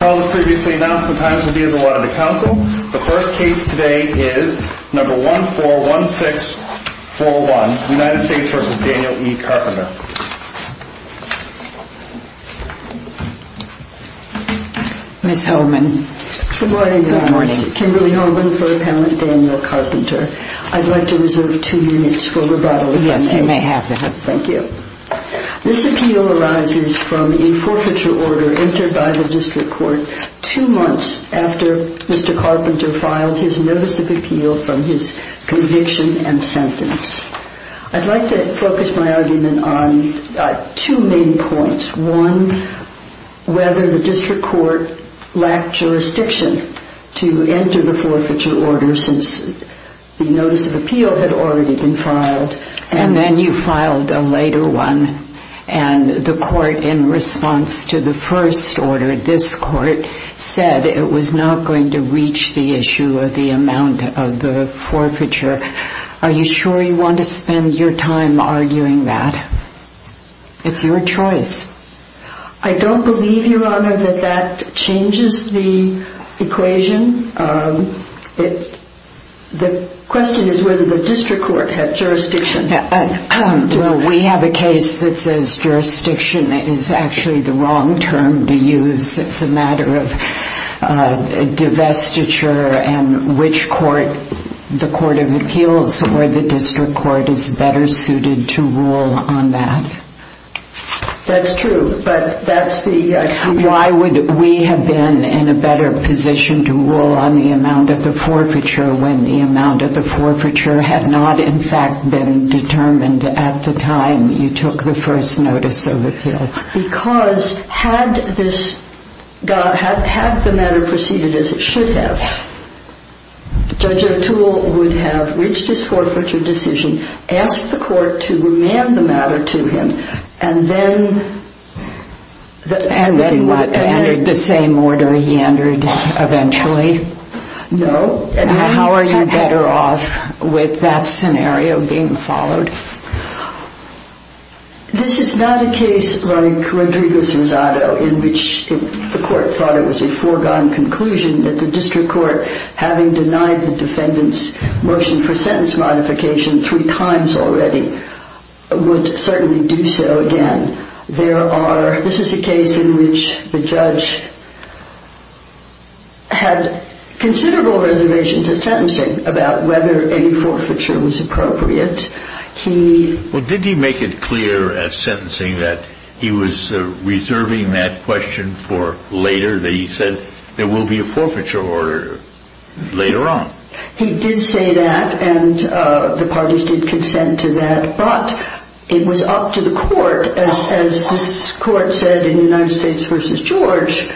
The first case today is No. 141641, United States v. Daniel E. Carpenter. Ms. Holman. Good morning. Kimberly Holman for Appellant Daniel Carpenter. I'd like to reserve two units for rebuttal. Yes, you may have that. Thank you. This appeal arises from a forfeiture order entered by the district court two months after Mr. Carpenter filed his notice of appeal from his conviction and sentence. I'd like to focus my argument on two main points. One, whether the district court lacked jurisdiction to enter the forfeiture order since the notice of appeal had already been filed. And then you filed a later one, and the court in response to the first order, this court, said it was not going to reach the issue of the amount of the forfeiture. Are you sure you want to spend your time arguing that? It's your choice. I don't believe, Your Honor, that that changes the equation. The question is whether the district court had jurisdiction. We have a case that says jurisdiction is actually the wrong term to use. It's a matter of divestiture and which court, the court of appeals or the district court, is better suited to rule on that. That's true, but that's the... Why would we have been in a better position to rule on the amount of the forfeiture when the amount of the forfeiture had not, in fact, been determined at the time you took the first notice of appeal? Because had the matter proceeded as it should have, Judge O'Toole would have reached his forfeiture decision, asked the court to remand the matter to him, and then... And then what? Entered the same order he entered eventually? No. And how are you better off with that scenario being followed? This is not a case like Rodrigo's Rosado in which the court thought it was a foregone conclusion that the district court, having denied the defendant's motion for sentence modification three times already, would certainly do so again. There are... This is a case in which the judge had considerable reservations at sentencing about whether any forfeiture was appropriate. He... Well, did he make it clear at sentencing that he was reserving that question for later, that he said there will be a forfeiture order later on? He did say that, and the parties did consent to that, but it was up to the court, as this court said in United States v. George,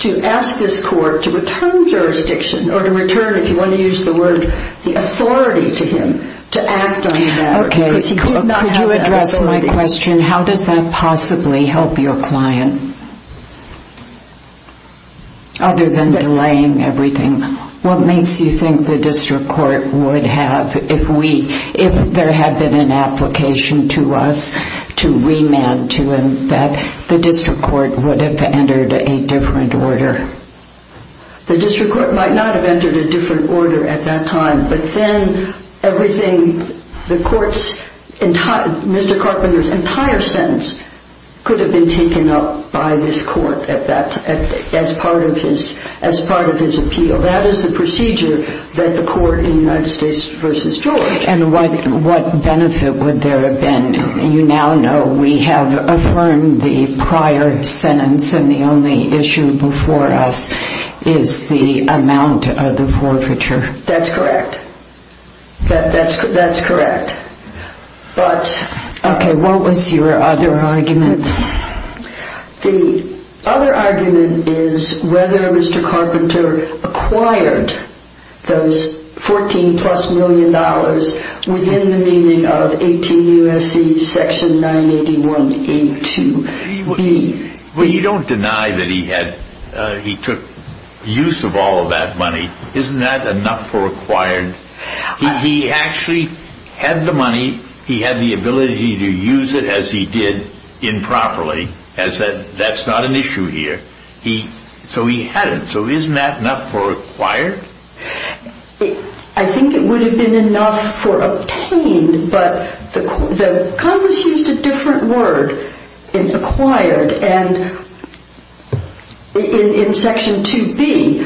to ask this court to return jurisdiction, or to return, if you want to use the word, the authority to him to act on that. Okay, could you address my question? How does that possibly help your client? Other than delaying everything, what makes you think the district court would have, if we, if there had been an application to us to remand to him, that the district court would have entered a different order? The district court might not have entered a different order at that time, but then everything, the court's entire, Mr. Carpenter's entire sentence, could have been taken up by this court at that, as part of his, as part of his appeal. That is the procedure that the court in United States v. George... ...is the amount of the forfeiture. That's correct. That's correct. But... Okay, what was your other argument? The other argument is whether Mr. Carpenter acquired those 14 plus million dollars within the meaning of 18 U.S.C. section 981A2B. But you don't deny that he had, he took use of all of that money. Isn't that enough for acquired? He actually had the money, he had the ability to use it as he did improperly, as that's not an issue here. He, so he had it. So isn't that enough for acquired? I think it would have been enough for obtained, but the Congress used a different word in acquired and in section 2B,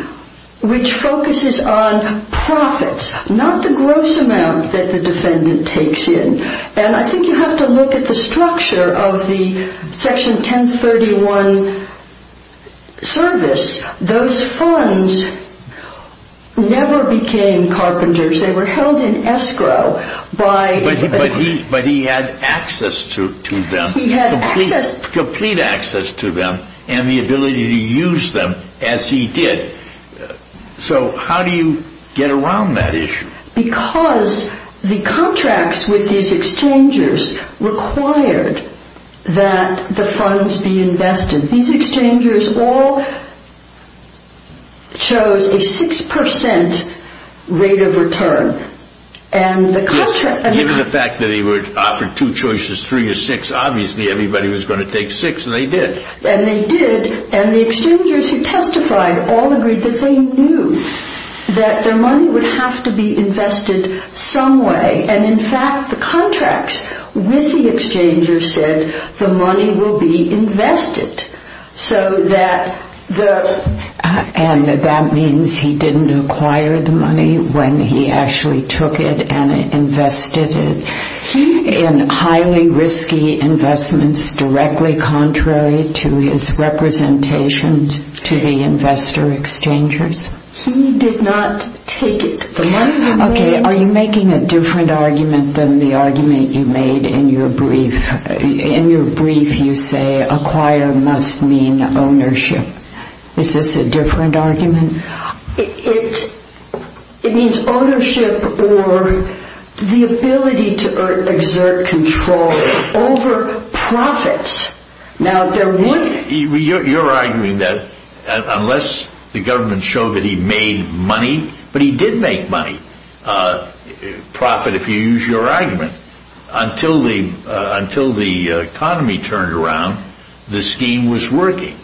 which focuses on profits, not the gross amount that the defendant takes in. And I think you have to look at the structure of the section 1031 service. Those funds never became Carpenter's. They were held in escrow by... But he had access to them. He had access... Complete access to them and the ability to use them as he did. So how do you get around that issue? Because the contracts with these exchangers required that the funds be invested. These exchangers all chose a 6% rate of return. And the contract... Given the fact that he offered two choices, three or six, obviously everybody was going to take six and they did. And the exchangers who testified all agreed that they knew that their money would have to be invested some way. And in fact, the contracts with the exchangers said the money will be invested so that the... to his representation to the investor exchangers? He did not take it. Okay, are you making a different argument than the argument you made in your brief? In your brief you say acquire must mean ownership. Is this a different argument? It means ownership or the ability to exert control over profits. Now there would... You're arguing that unless the government showed that he made money, but he did make money, profit if you use your argument, until the economy turned around, the scheme was working.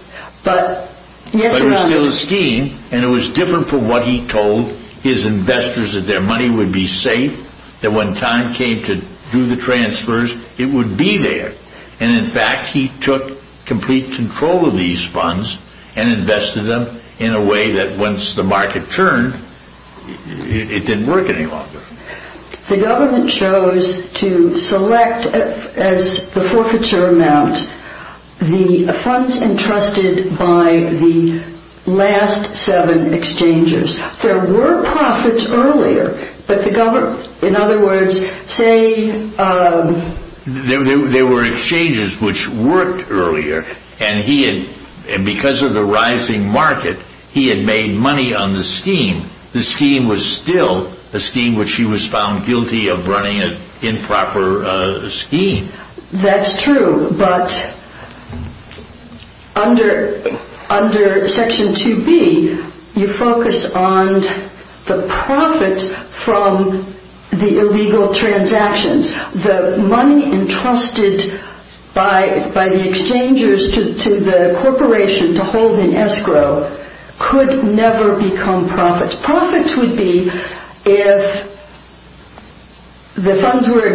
But it was still a scheme and it was different from what he told his investors that their money would be safe, that when time came to do the transfers, it would be there. And in fact, he took complete control of these funds and invested them in a way that once the market turned, it didn't work any longer. The government chose to select as the forfeiture amount the funds entrusted by the last seven exchangers. There were profits earlier, but the government, in other words, say... He was found guilty of running an improper scheme. That's true, but under Section 2B, you focus on the profits from the illegal transactions. The money entrusted by the exchangers to the corporation to hold in escrow could never become profits. Profits would be if the funds were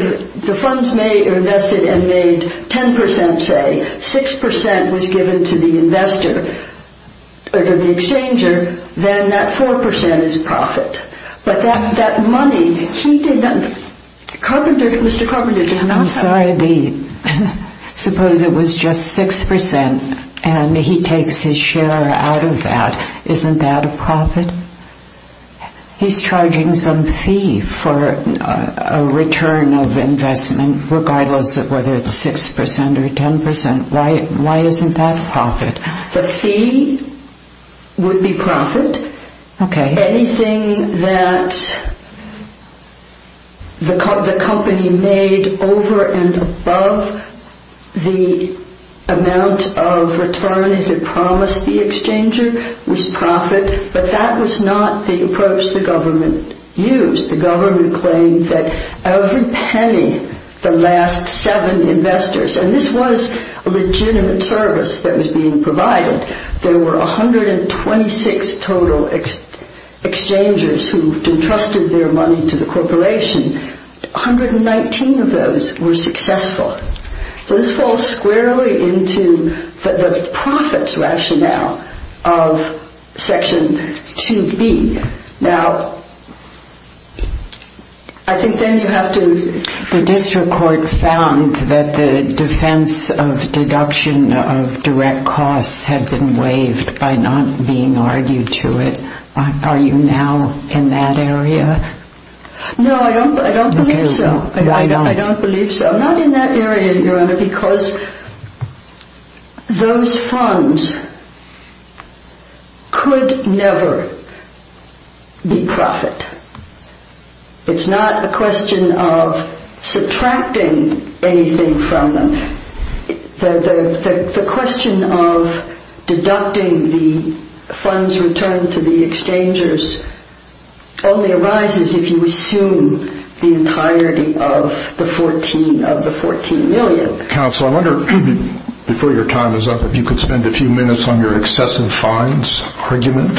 invested and made 10%, say, 6% was given to the exchanger, then that 4% is profit. But that money, Mr. Carpenter did not have... I'm sorry, suppose it was just 6% and he takes his share out of that, isn't that a profit? He's charging some fee for a return of investment, regardless of whether it's 6% or 10%. Why isn't that profit? The fee would be profit. Anything that the company made over and above the amount of return it had promised the exchanger was profit, but that was not the approach the government used. The government claimed that every penny the last seven investors... And this was a legitimate service that was being provided. There were 126 total exchangers who entrusted their money to the corporation. 119 of those were successful. So this falls squarely into the profits rationale of Section 2B. The district court found that the defense of deduction of direct costs had been waived by not being argued to it. Are you now in that area? No, I don't believe so. I'm not in that area, Your Honor, because those funds could never be profit. It's not a question of subtracting anything from them. The question of deducting the funds returned to the exchangers only arises if you assume the entirety of the $14 million. Counsel, I wonder if you could spend a few minutes on your excessive fines argument.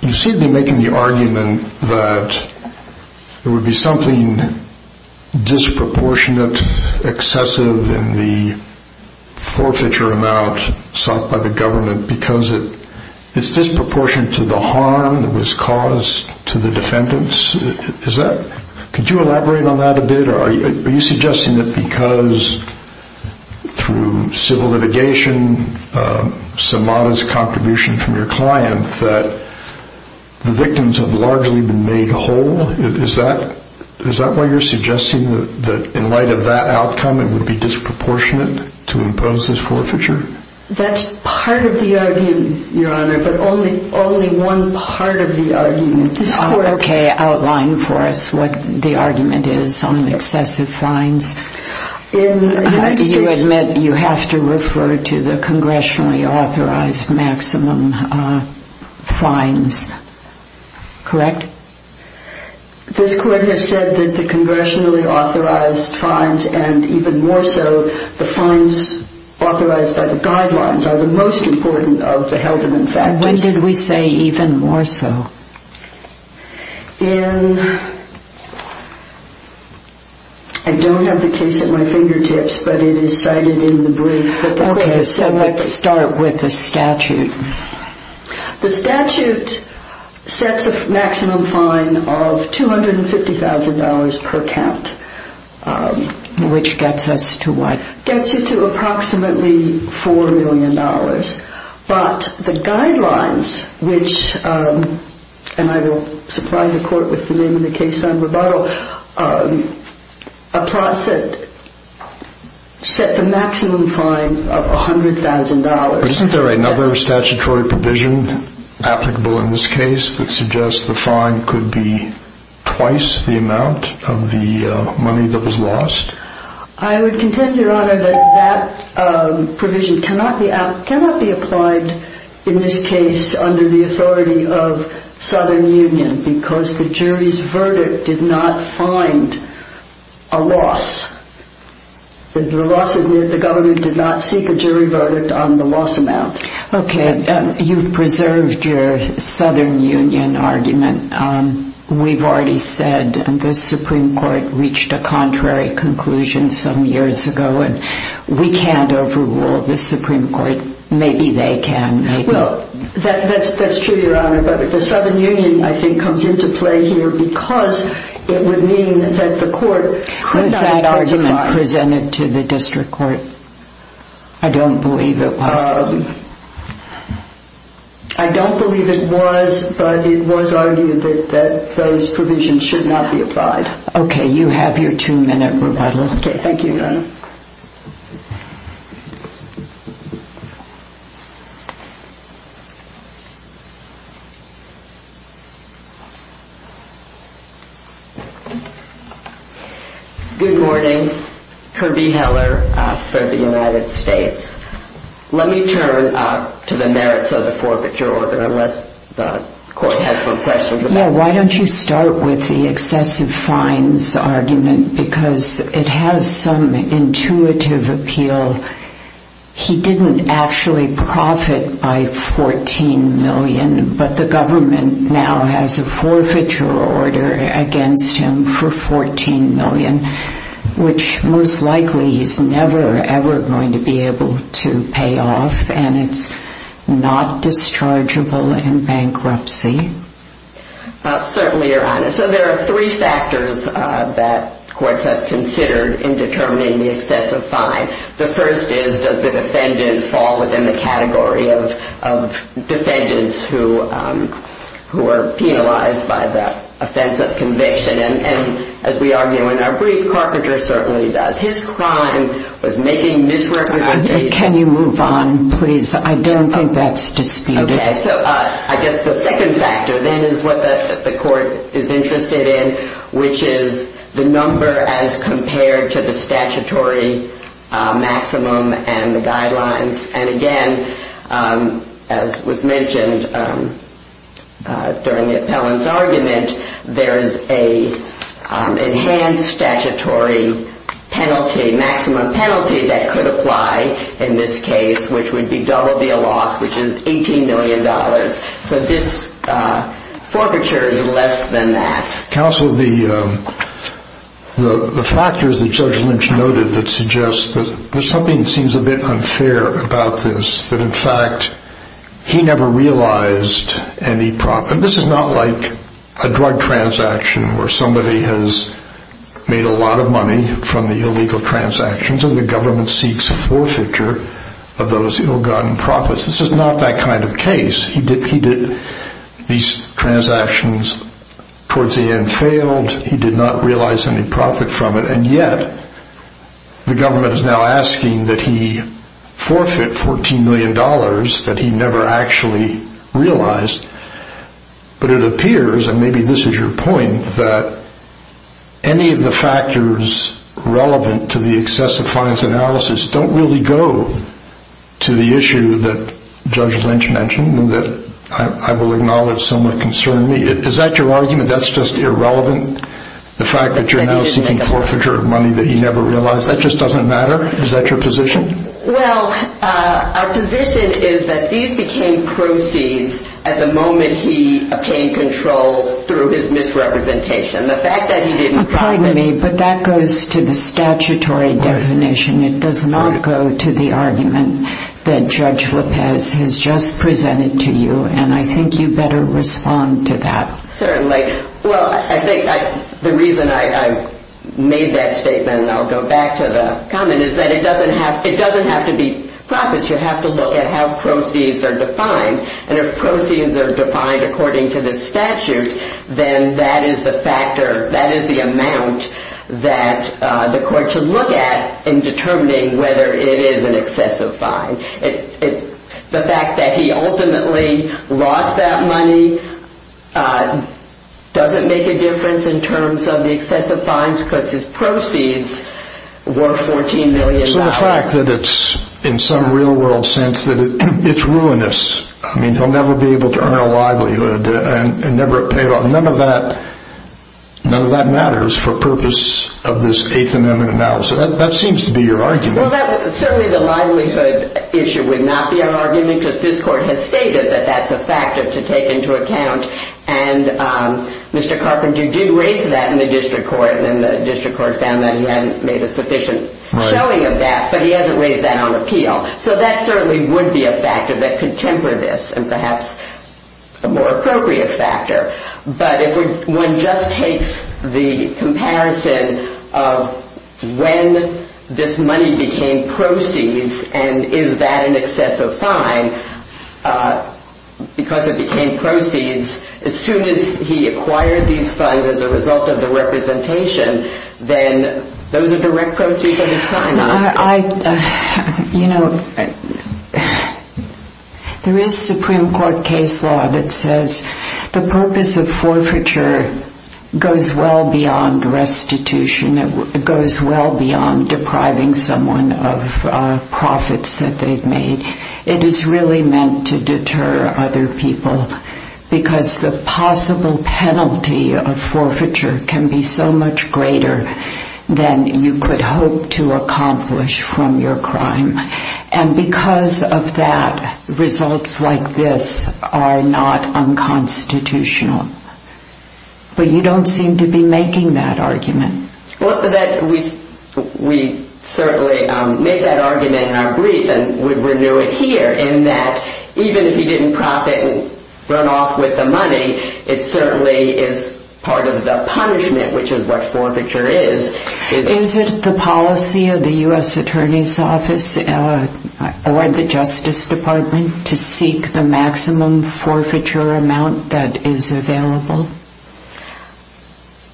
You seem to be making the argument that there would be something disproportionate, excessive in the forfeiture amount sought by the government because it's disproportionate to the harm that was caused to the defendants. Could you elaborate on that a bit? Are you suggesting that because through civil litigation, some modest contribution from your client, that the victims have largely been made whole? Is that why you're suggesting that in light of that outcome, it would be disproportionate to impose this forfeiture? That's part of the argument, Your Honor, but only one part of the argument. Okay, outline for us what the argument is on excessive fines. You admit you have to refer to the congressionally authorized maximum fines, correct? This court has said that the congressionally authorized fines and even more so the fines authorized by the guidelines are the most important of the Helderman factors. When did we say even more so? I don't have the case at my fingertips, but it is cited in the brief. Okay, so let's start with the statute. The statute sets a maximum fine of $250,000 per count. Which gets us to what? Gets you to approximately $4 million, but the guidelines which, and I will supply the court with the name of the case on rebuttal, set the maximum fine of $100,000. Isn't there another statutory provision applicable in this case that suggests the fine could be twice the amount of the money that was lost? I would contend, Your Honor, that that provision cannot be applied in this case under the authority of Southern Union because the jury's verdict did not find a loss. The government did not seek a jury verdict on the loss amount. Okay, you preserved your Southern Union argument. We've already said the Supreme Court reached a contrary conclusion some years ago, and we can't overrule the Supreme Court. Maybe they can. Well, that's true, Your Honor, but the Southern Union, I think, comes into play here because it would mean that the court could not... Was that argument presented to the district court? I don't believe it was. I don't believe it was, but it was argued that those provisions should not be applied. Okay, you have your two-minute rebuttal. Okay, thank you, Your Honor. Good morning. Kirby Heller for the United States. Let me turn to the merits of the forfeiture order, unless the court has some questions about it. Yeah, why don't you start with the excessive fines argument because it has some intuitive appeal. He didn't actually profit by $14 million, but the government now has a forfeiture order against him for $14 million, which most likely he's never, ever going to be able to pay off, and it's not dischargeable in bankruptcy. Certainly, Your Honor. So there are three factors that courts have considered in determining the excessive fine. The first is does the defendant fall within the category of defendants who are penalized by the offense of conviction, and as we argue in our brief, Carpenter certainly does. His crime was making misrepresentation. Can you move on, please? I don't think that's disputed. Okay, so I guess the second factor then is what the court is interested in, which is the number as compared to the statutory maximum and the guidelines, and again, as was mentioned during the appellant's argument, there is an enhanced statutory penalty, maximum penalty that could apply in this case, which would be double the loss, which is $18 million. So this forfeiture is less than that. Counsel, the factors that Judge Lynch noted that suggest that there's something that seems a bit unfair about this, that in fact he never realized any problem. This is not like a drug transaction where somebody has made a lot of money from the illegal transactions and the government seeks forfeiture of those ill-gotten profits. This is not that kind of case. He did these transactions, towards the end failed, he did not realize any profit from it, and yet the government is now asking that he forfeit $14 million that he never actually realized, but it appears, and maybe this is your point, that any of the factors relevant to the excessive fines analysis don't really go to the issue that Judge Lynch mentioned, that I will acknowledge somewhat concerned me. Is that your argument, that's just irrelevant? The fact that you're now seeking forfeiture of money that you never realized, that just doesn't matter? Is that your position? Well, our position is that these became proceeds at the moment he obtained control through his misrepresentation. The fact that he didn't find it... Pardon me, but that goes to the statutory definition. It does not go to the argument that Judge Lopez has just presented to you, and I think you better respond to that. Certainly. The reason I made that statement, and I'll go back to the comment, is that it doesn't have to be profits, you have to look at how proceeds are defined, and if proceeds are defined according to the statute, then that is the amount that the court should look at in determining whether it is an excessive fine. The fact that he ultimately lost that money doesn't make a difference in terms of the excessive fines, because his proceeds were $14 million. So the fact that it's, in some real world sense, that it's ruinous, I mean, he'll never be able to earn a livelihood, and never have paid off, none of that matters for purpose of this Eighth Amendment analysis. That seems to be your argument. Well, certainly the livelihood issue would not be an argument, because this court has stated that that's a factor to take into account, and Mr. Carpenter did raise that in the district court, and the district court found that he hadn't made a sufficient showing of that, but he hasn't raised that on appeal. So that certainly would be a factor that could temper this, and perhaps a more appropriate factor. But if one just takes the comparison of when this money became proceeds, and is that an excessive fine, because it became proceeds, as soon as he acquired these funds as a result of the representation, then those are direct proceeds of his fine, aren't they? There is Supreme Court case law that says the purpose of forfeiture goes well beyond restitution, it goes well beyond depriving someone of profits that they've made. It is really meant to deter other people, because the possible penalty of forfeiture can be so much greater than you could hope to accomplish from your crime. And because of that, results like this are not unconstitutional. But you don't seem to be making that argument. We certainly made that argument in our brief, and we renew it here, in that even if he didn't profit and run off with the money, it certainly is part of the punishment, which is what forfeiture is. Is it the policy of the U.S. Attorney's Office or the Justice Department to seek the maximum forfeiture amount that is available?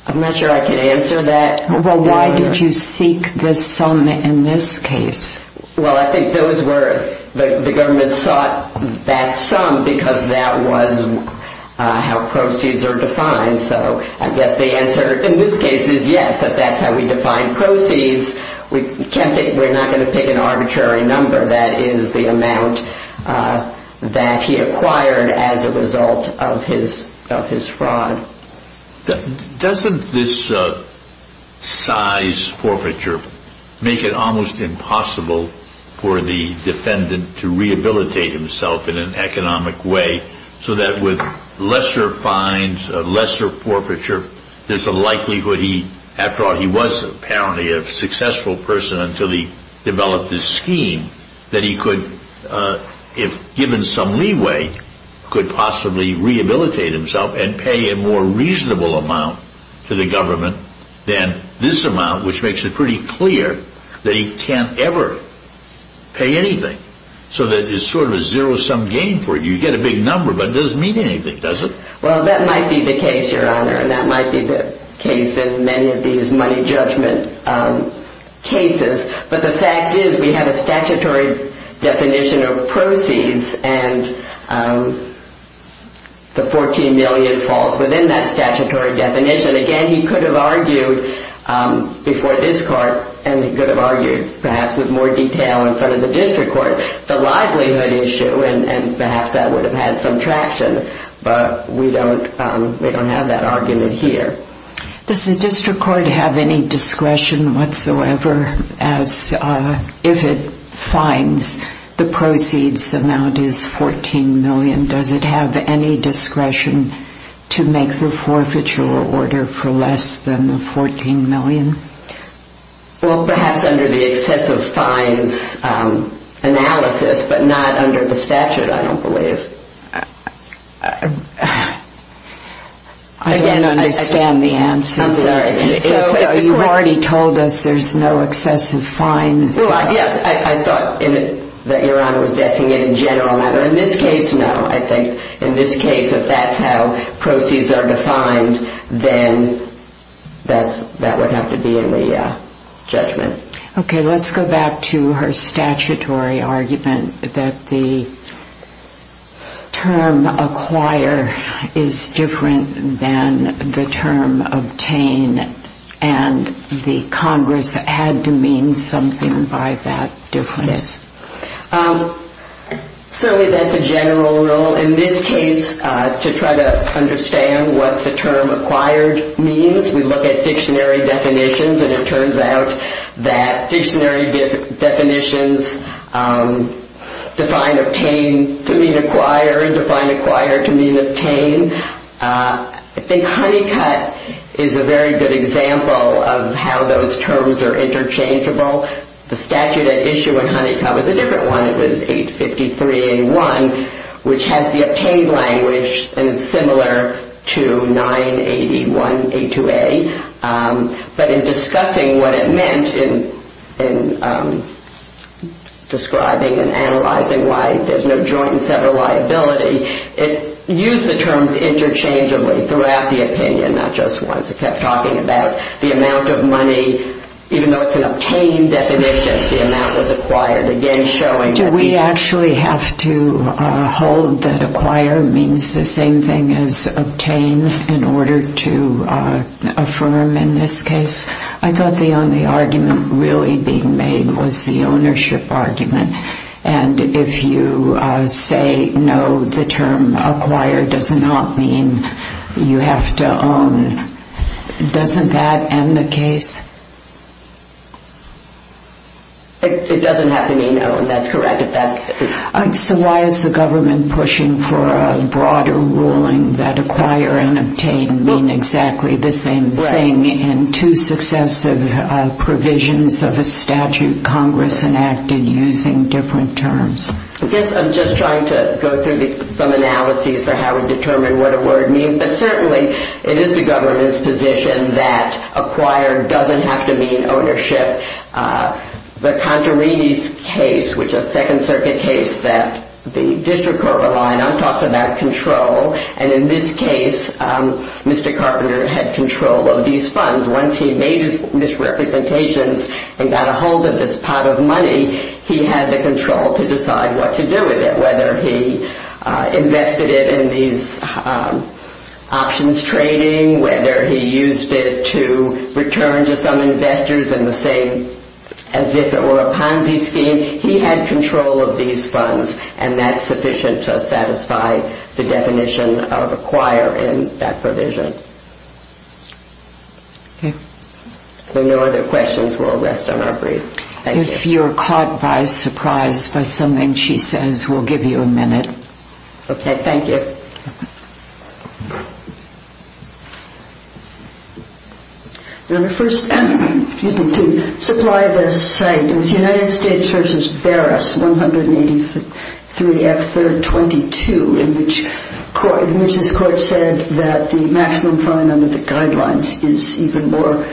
I'm not sure I can answer that. Well, why did you seek the sum in this case? Well, I think the government sought that sum because that was how proceeds are defined. So I guess the answer in this case is yes, that that's how we define proceeds. We're not going to pick an arbitrary number. That is the amount that he acquired as a result of his fraud. Doesn't this size forfeiture make it almost impossible for the defendant to rehabilitate himself in an economic way so that with lesser fines, lesser forfeiture, there's a likelihood he, after all, he was apparently a successful person until he developed this scheme, that he could, if given some leeway, could possibly rehabilitate himself and pay a more reasonable amount to the government than this amount, which makes it pretty clear that he can't ever pay anything so that it's sort of a zero-sum game for you. You get a big number, but it doesn't mean anything, does it? Well, that might be the case, Your Honor, and that might be the case in many of these money judgment cases. But the fact is we have a statutory definition of proceeds and the $14 million falls within that statutory definition. Again, he could have argued before this court, and he could have argued perhaps with more detail in front of the district court, the livelihood issue, and perhaps that would have had some traction, but we don't have that argument here. Does the district court have any discretion whatsoever as if it finds the proceeds amount is $14 million, does it have any discretion to make the forfeiture order for less than the $14 million? Well, perhaps under the excessive fines analysis, but not under the statute, I don't believe. I don't understand the answer. I'm sorry. You've already told us there's no excessive fines. Well, yes, I thought that Your Honor was guessing it in general, but in this case, no, I think. In this case, if that's how proceeds are defined, then that would have to be in the judgment. Okay, let's go back to her statutory argument that the term acquire is different than the term obtain, and the Congress had to mean something by that difference. Yes. So that's a general rule. In this case, to try to understand what the term acquired means, we look at dictionary definitions, and it turns out that dictionary definitions define obtain to mean acquire and define acquire to mean obtain. I think Honeycutt is a very good example of how those terms are interchangeable. The statute at issue in Honeycutt was a different one. It was 853A1, which has the obtain language, and it's similar to 981A2A, but in discussing what it meant in describing and analyzing why there's no joint and several liability, it used the terms interchangeably throughout the opinion, not just once. It kept talking about the amount of money. Even though it's an obtain definition, the amount was acquired, again showing that these are different. Do we actually have to hold that acquire means the same thing as obtain in order to affirm in this case? I thought the only argument really being made was the ownership argument, and if you say no, the term acquire does not mean you have to own. Doesn't that end the case? It doesn't have to mean no, and that's correct. So why is the government pushing for a broader ruling that acquire and obtain mean exactly the same thing in two successive provisions of a statute that Congress enacted using different terms? I guess I'm just trying to go through some analyses for how we determine what a word means, but certainly it is the government's position that acquire doesn't have to mean ownership. The Contarini case, which is a Second Circuit case that the district court relied on, talks about control, and in this case, Mr. Carpenter had control of these funds. Once he made his misrepresentations and got a hold of this pot of money, he had the control to decide what to do with it, whether he invested it in these options trading, whether he used it to return to some investors in the same, as if it were a Ponzi scheme. He had control of these funds, and that's sufficient to satisfy the definition of acquire in that provision. If there are no other questions, we'll rest on our brief. Thank you. If you're caught by surprise by something she says, we'll give you a minute. Okay, thank you. The first, excuse me, to supply this site was United States v. Barras, 183 F. 322, in which this court said that the maximum fine under the guidelines is even more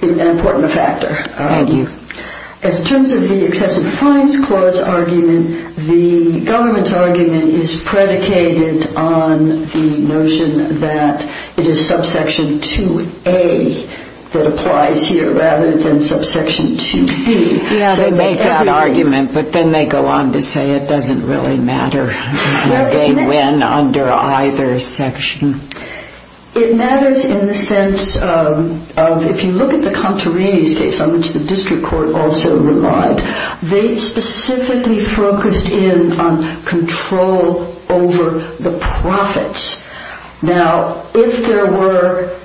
an important factor. Thank you. As terms of the excessive fines clause argument, the government's argument is predicated on the notion that it is subsection 2A that applies here, rather than subsection 2B. They make that argument, but then they go on to say it doesn't really matter. They win under either section. It matters in the sense of, if you look at the Contarini's case, on which the district court also relied, they specifically focused in on control over the profits. Now, if there were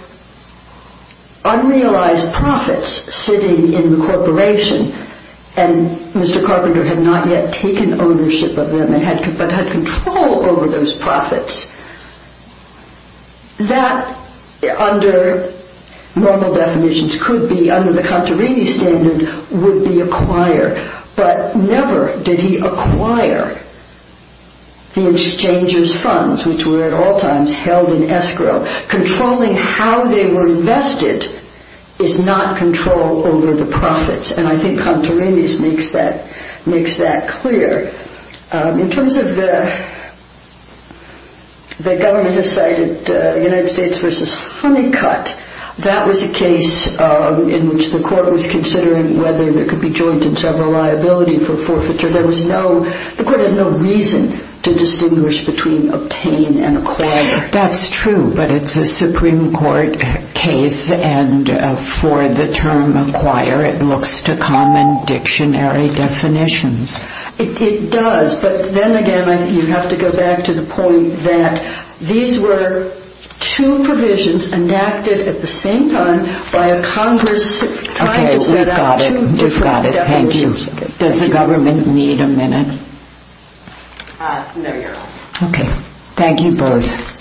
unrealized profits sitting in the corporation, and Mr. Carpenter had not yet taken ownership of them, but had control over those profits, that under normal definitions could be, under the Contarini standard, would be acquired. But never did he acquire the exchanger's funds, which were at all times held in escrow. Controlling how they were invested is not control over the profits, and I think Contarini makes that clear. In terms of the government decided United States v. Honeycutt, that was a case in which the court was considering whether there could be joint and several liability for forfeiture. The court had no reason to distinguish between obtain and acquire. That's true, but it's a Supreme Court case, and for the term acquire it looks to common dictionary definitions. It does, but then again you have to go back to the point that these were two provisions enacted at the same time by a Congress... Okay, we've got it, we've got it, thank you. Does the government need a minute? No, Your Honor. Okay, thank you both.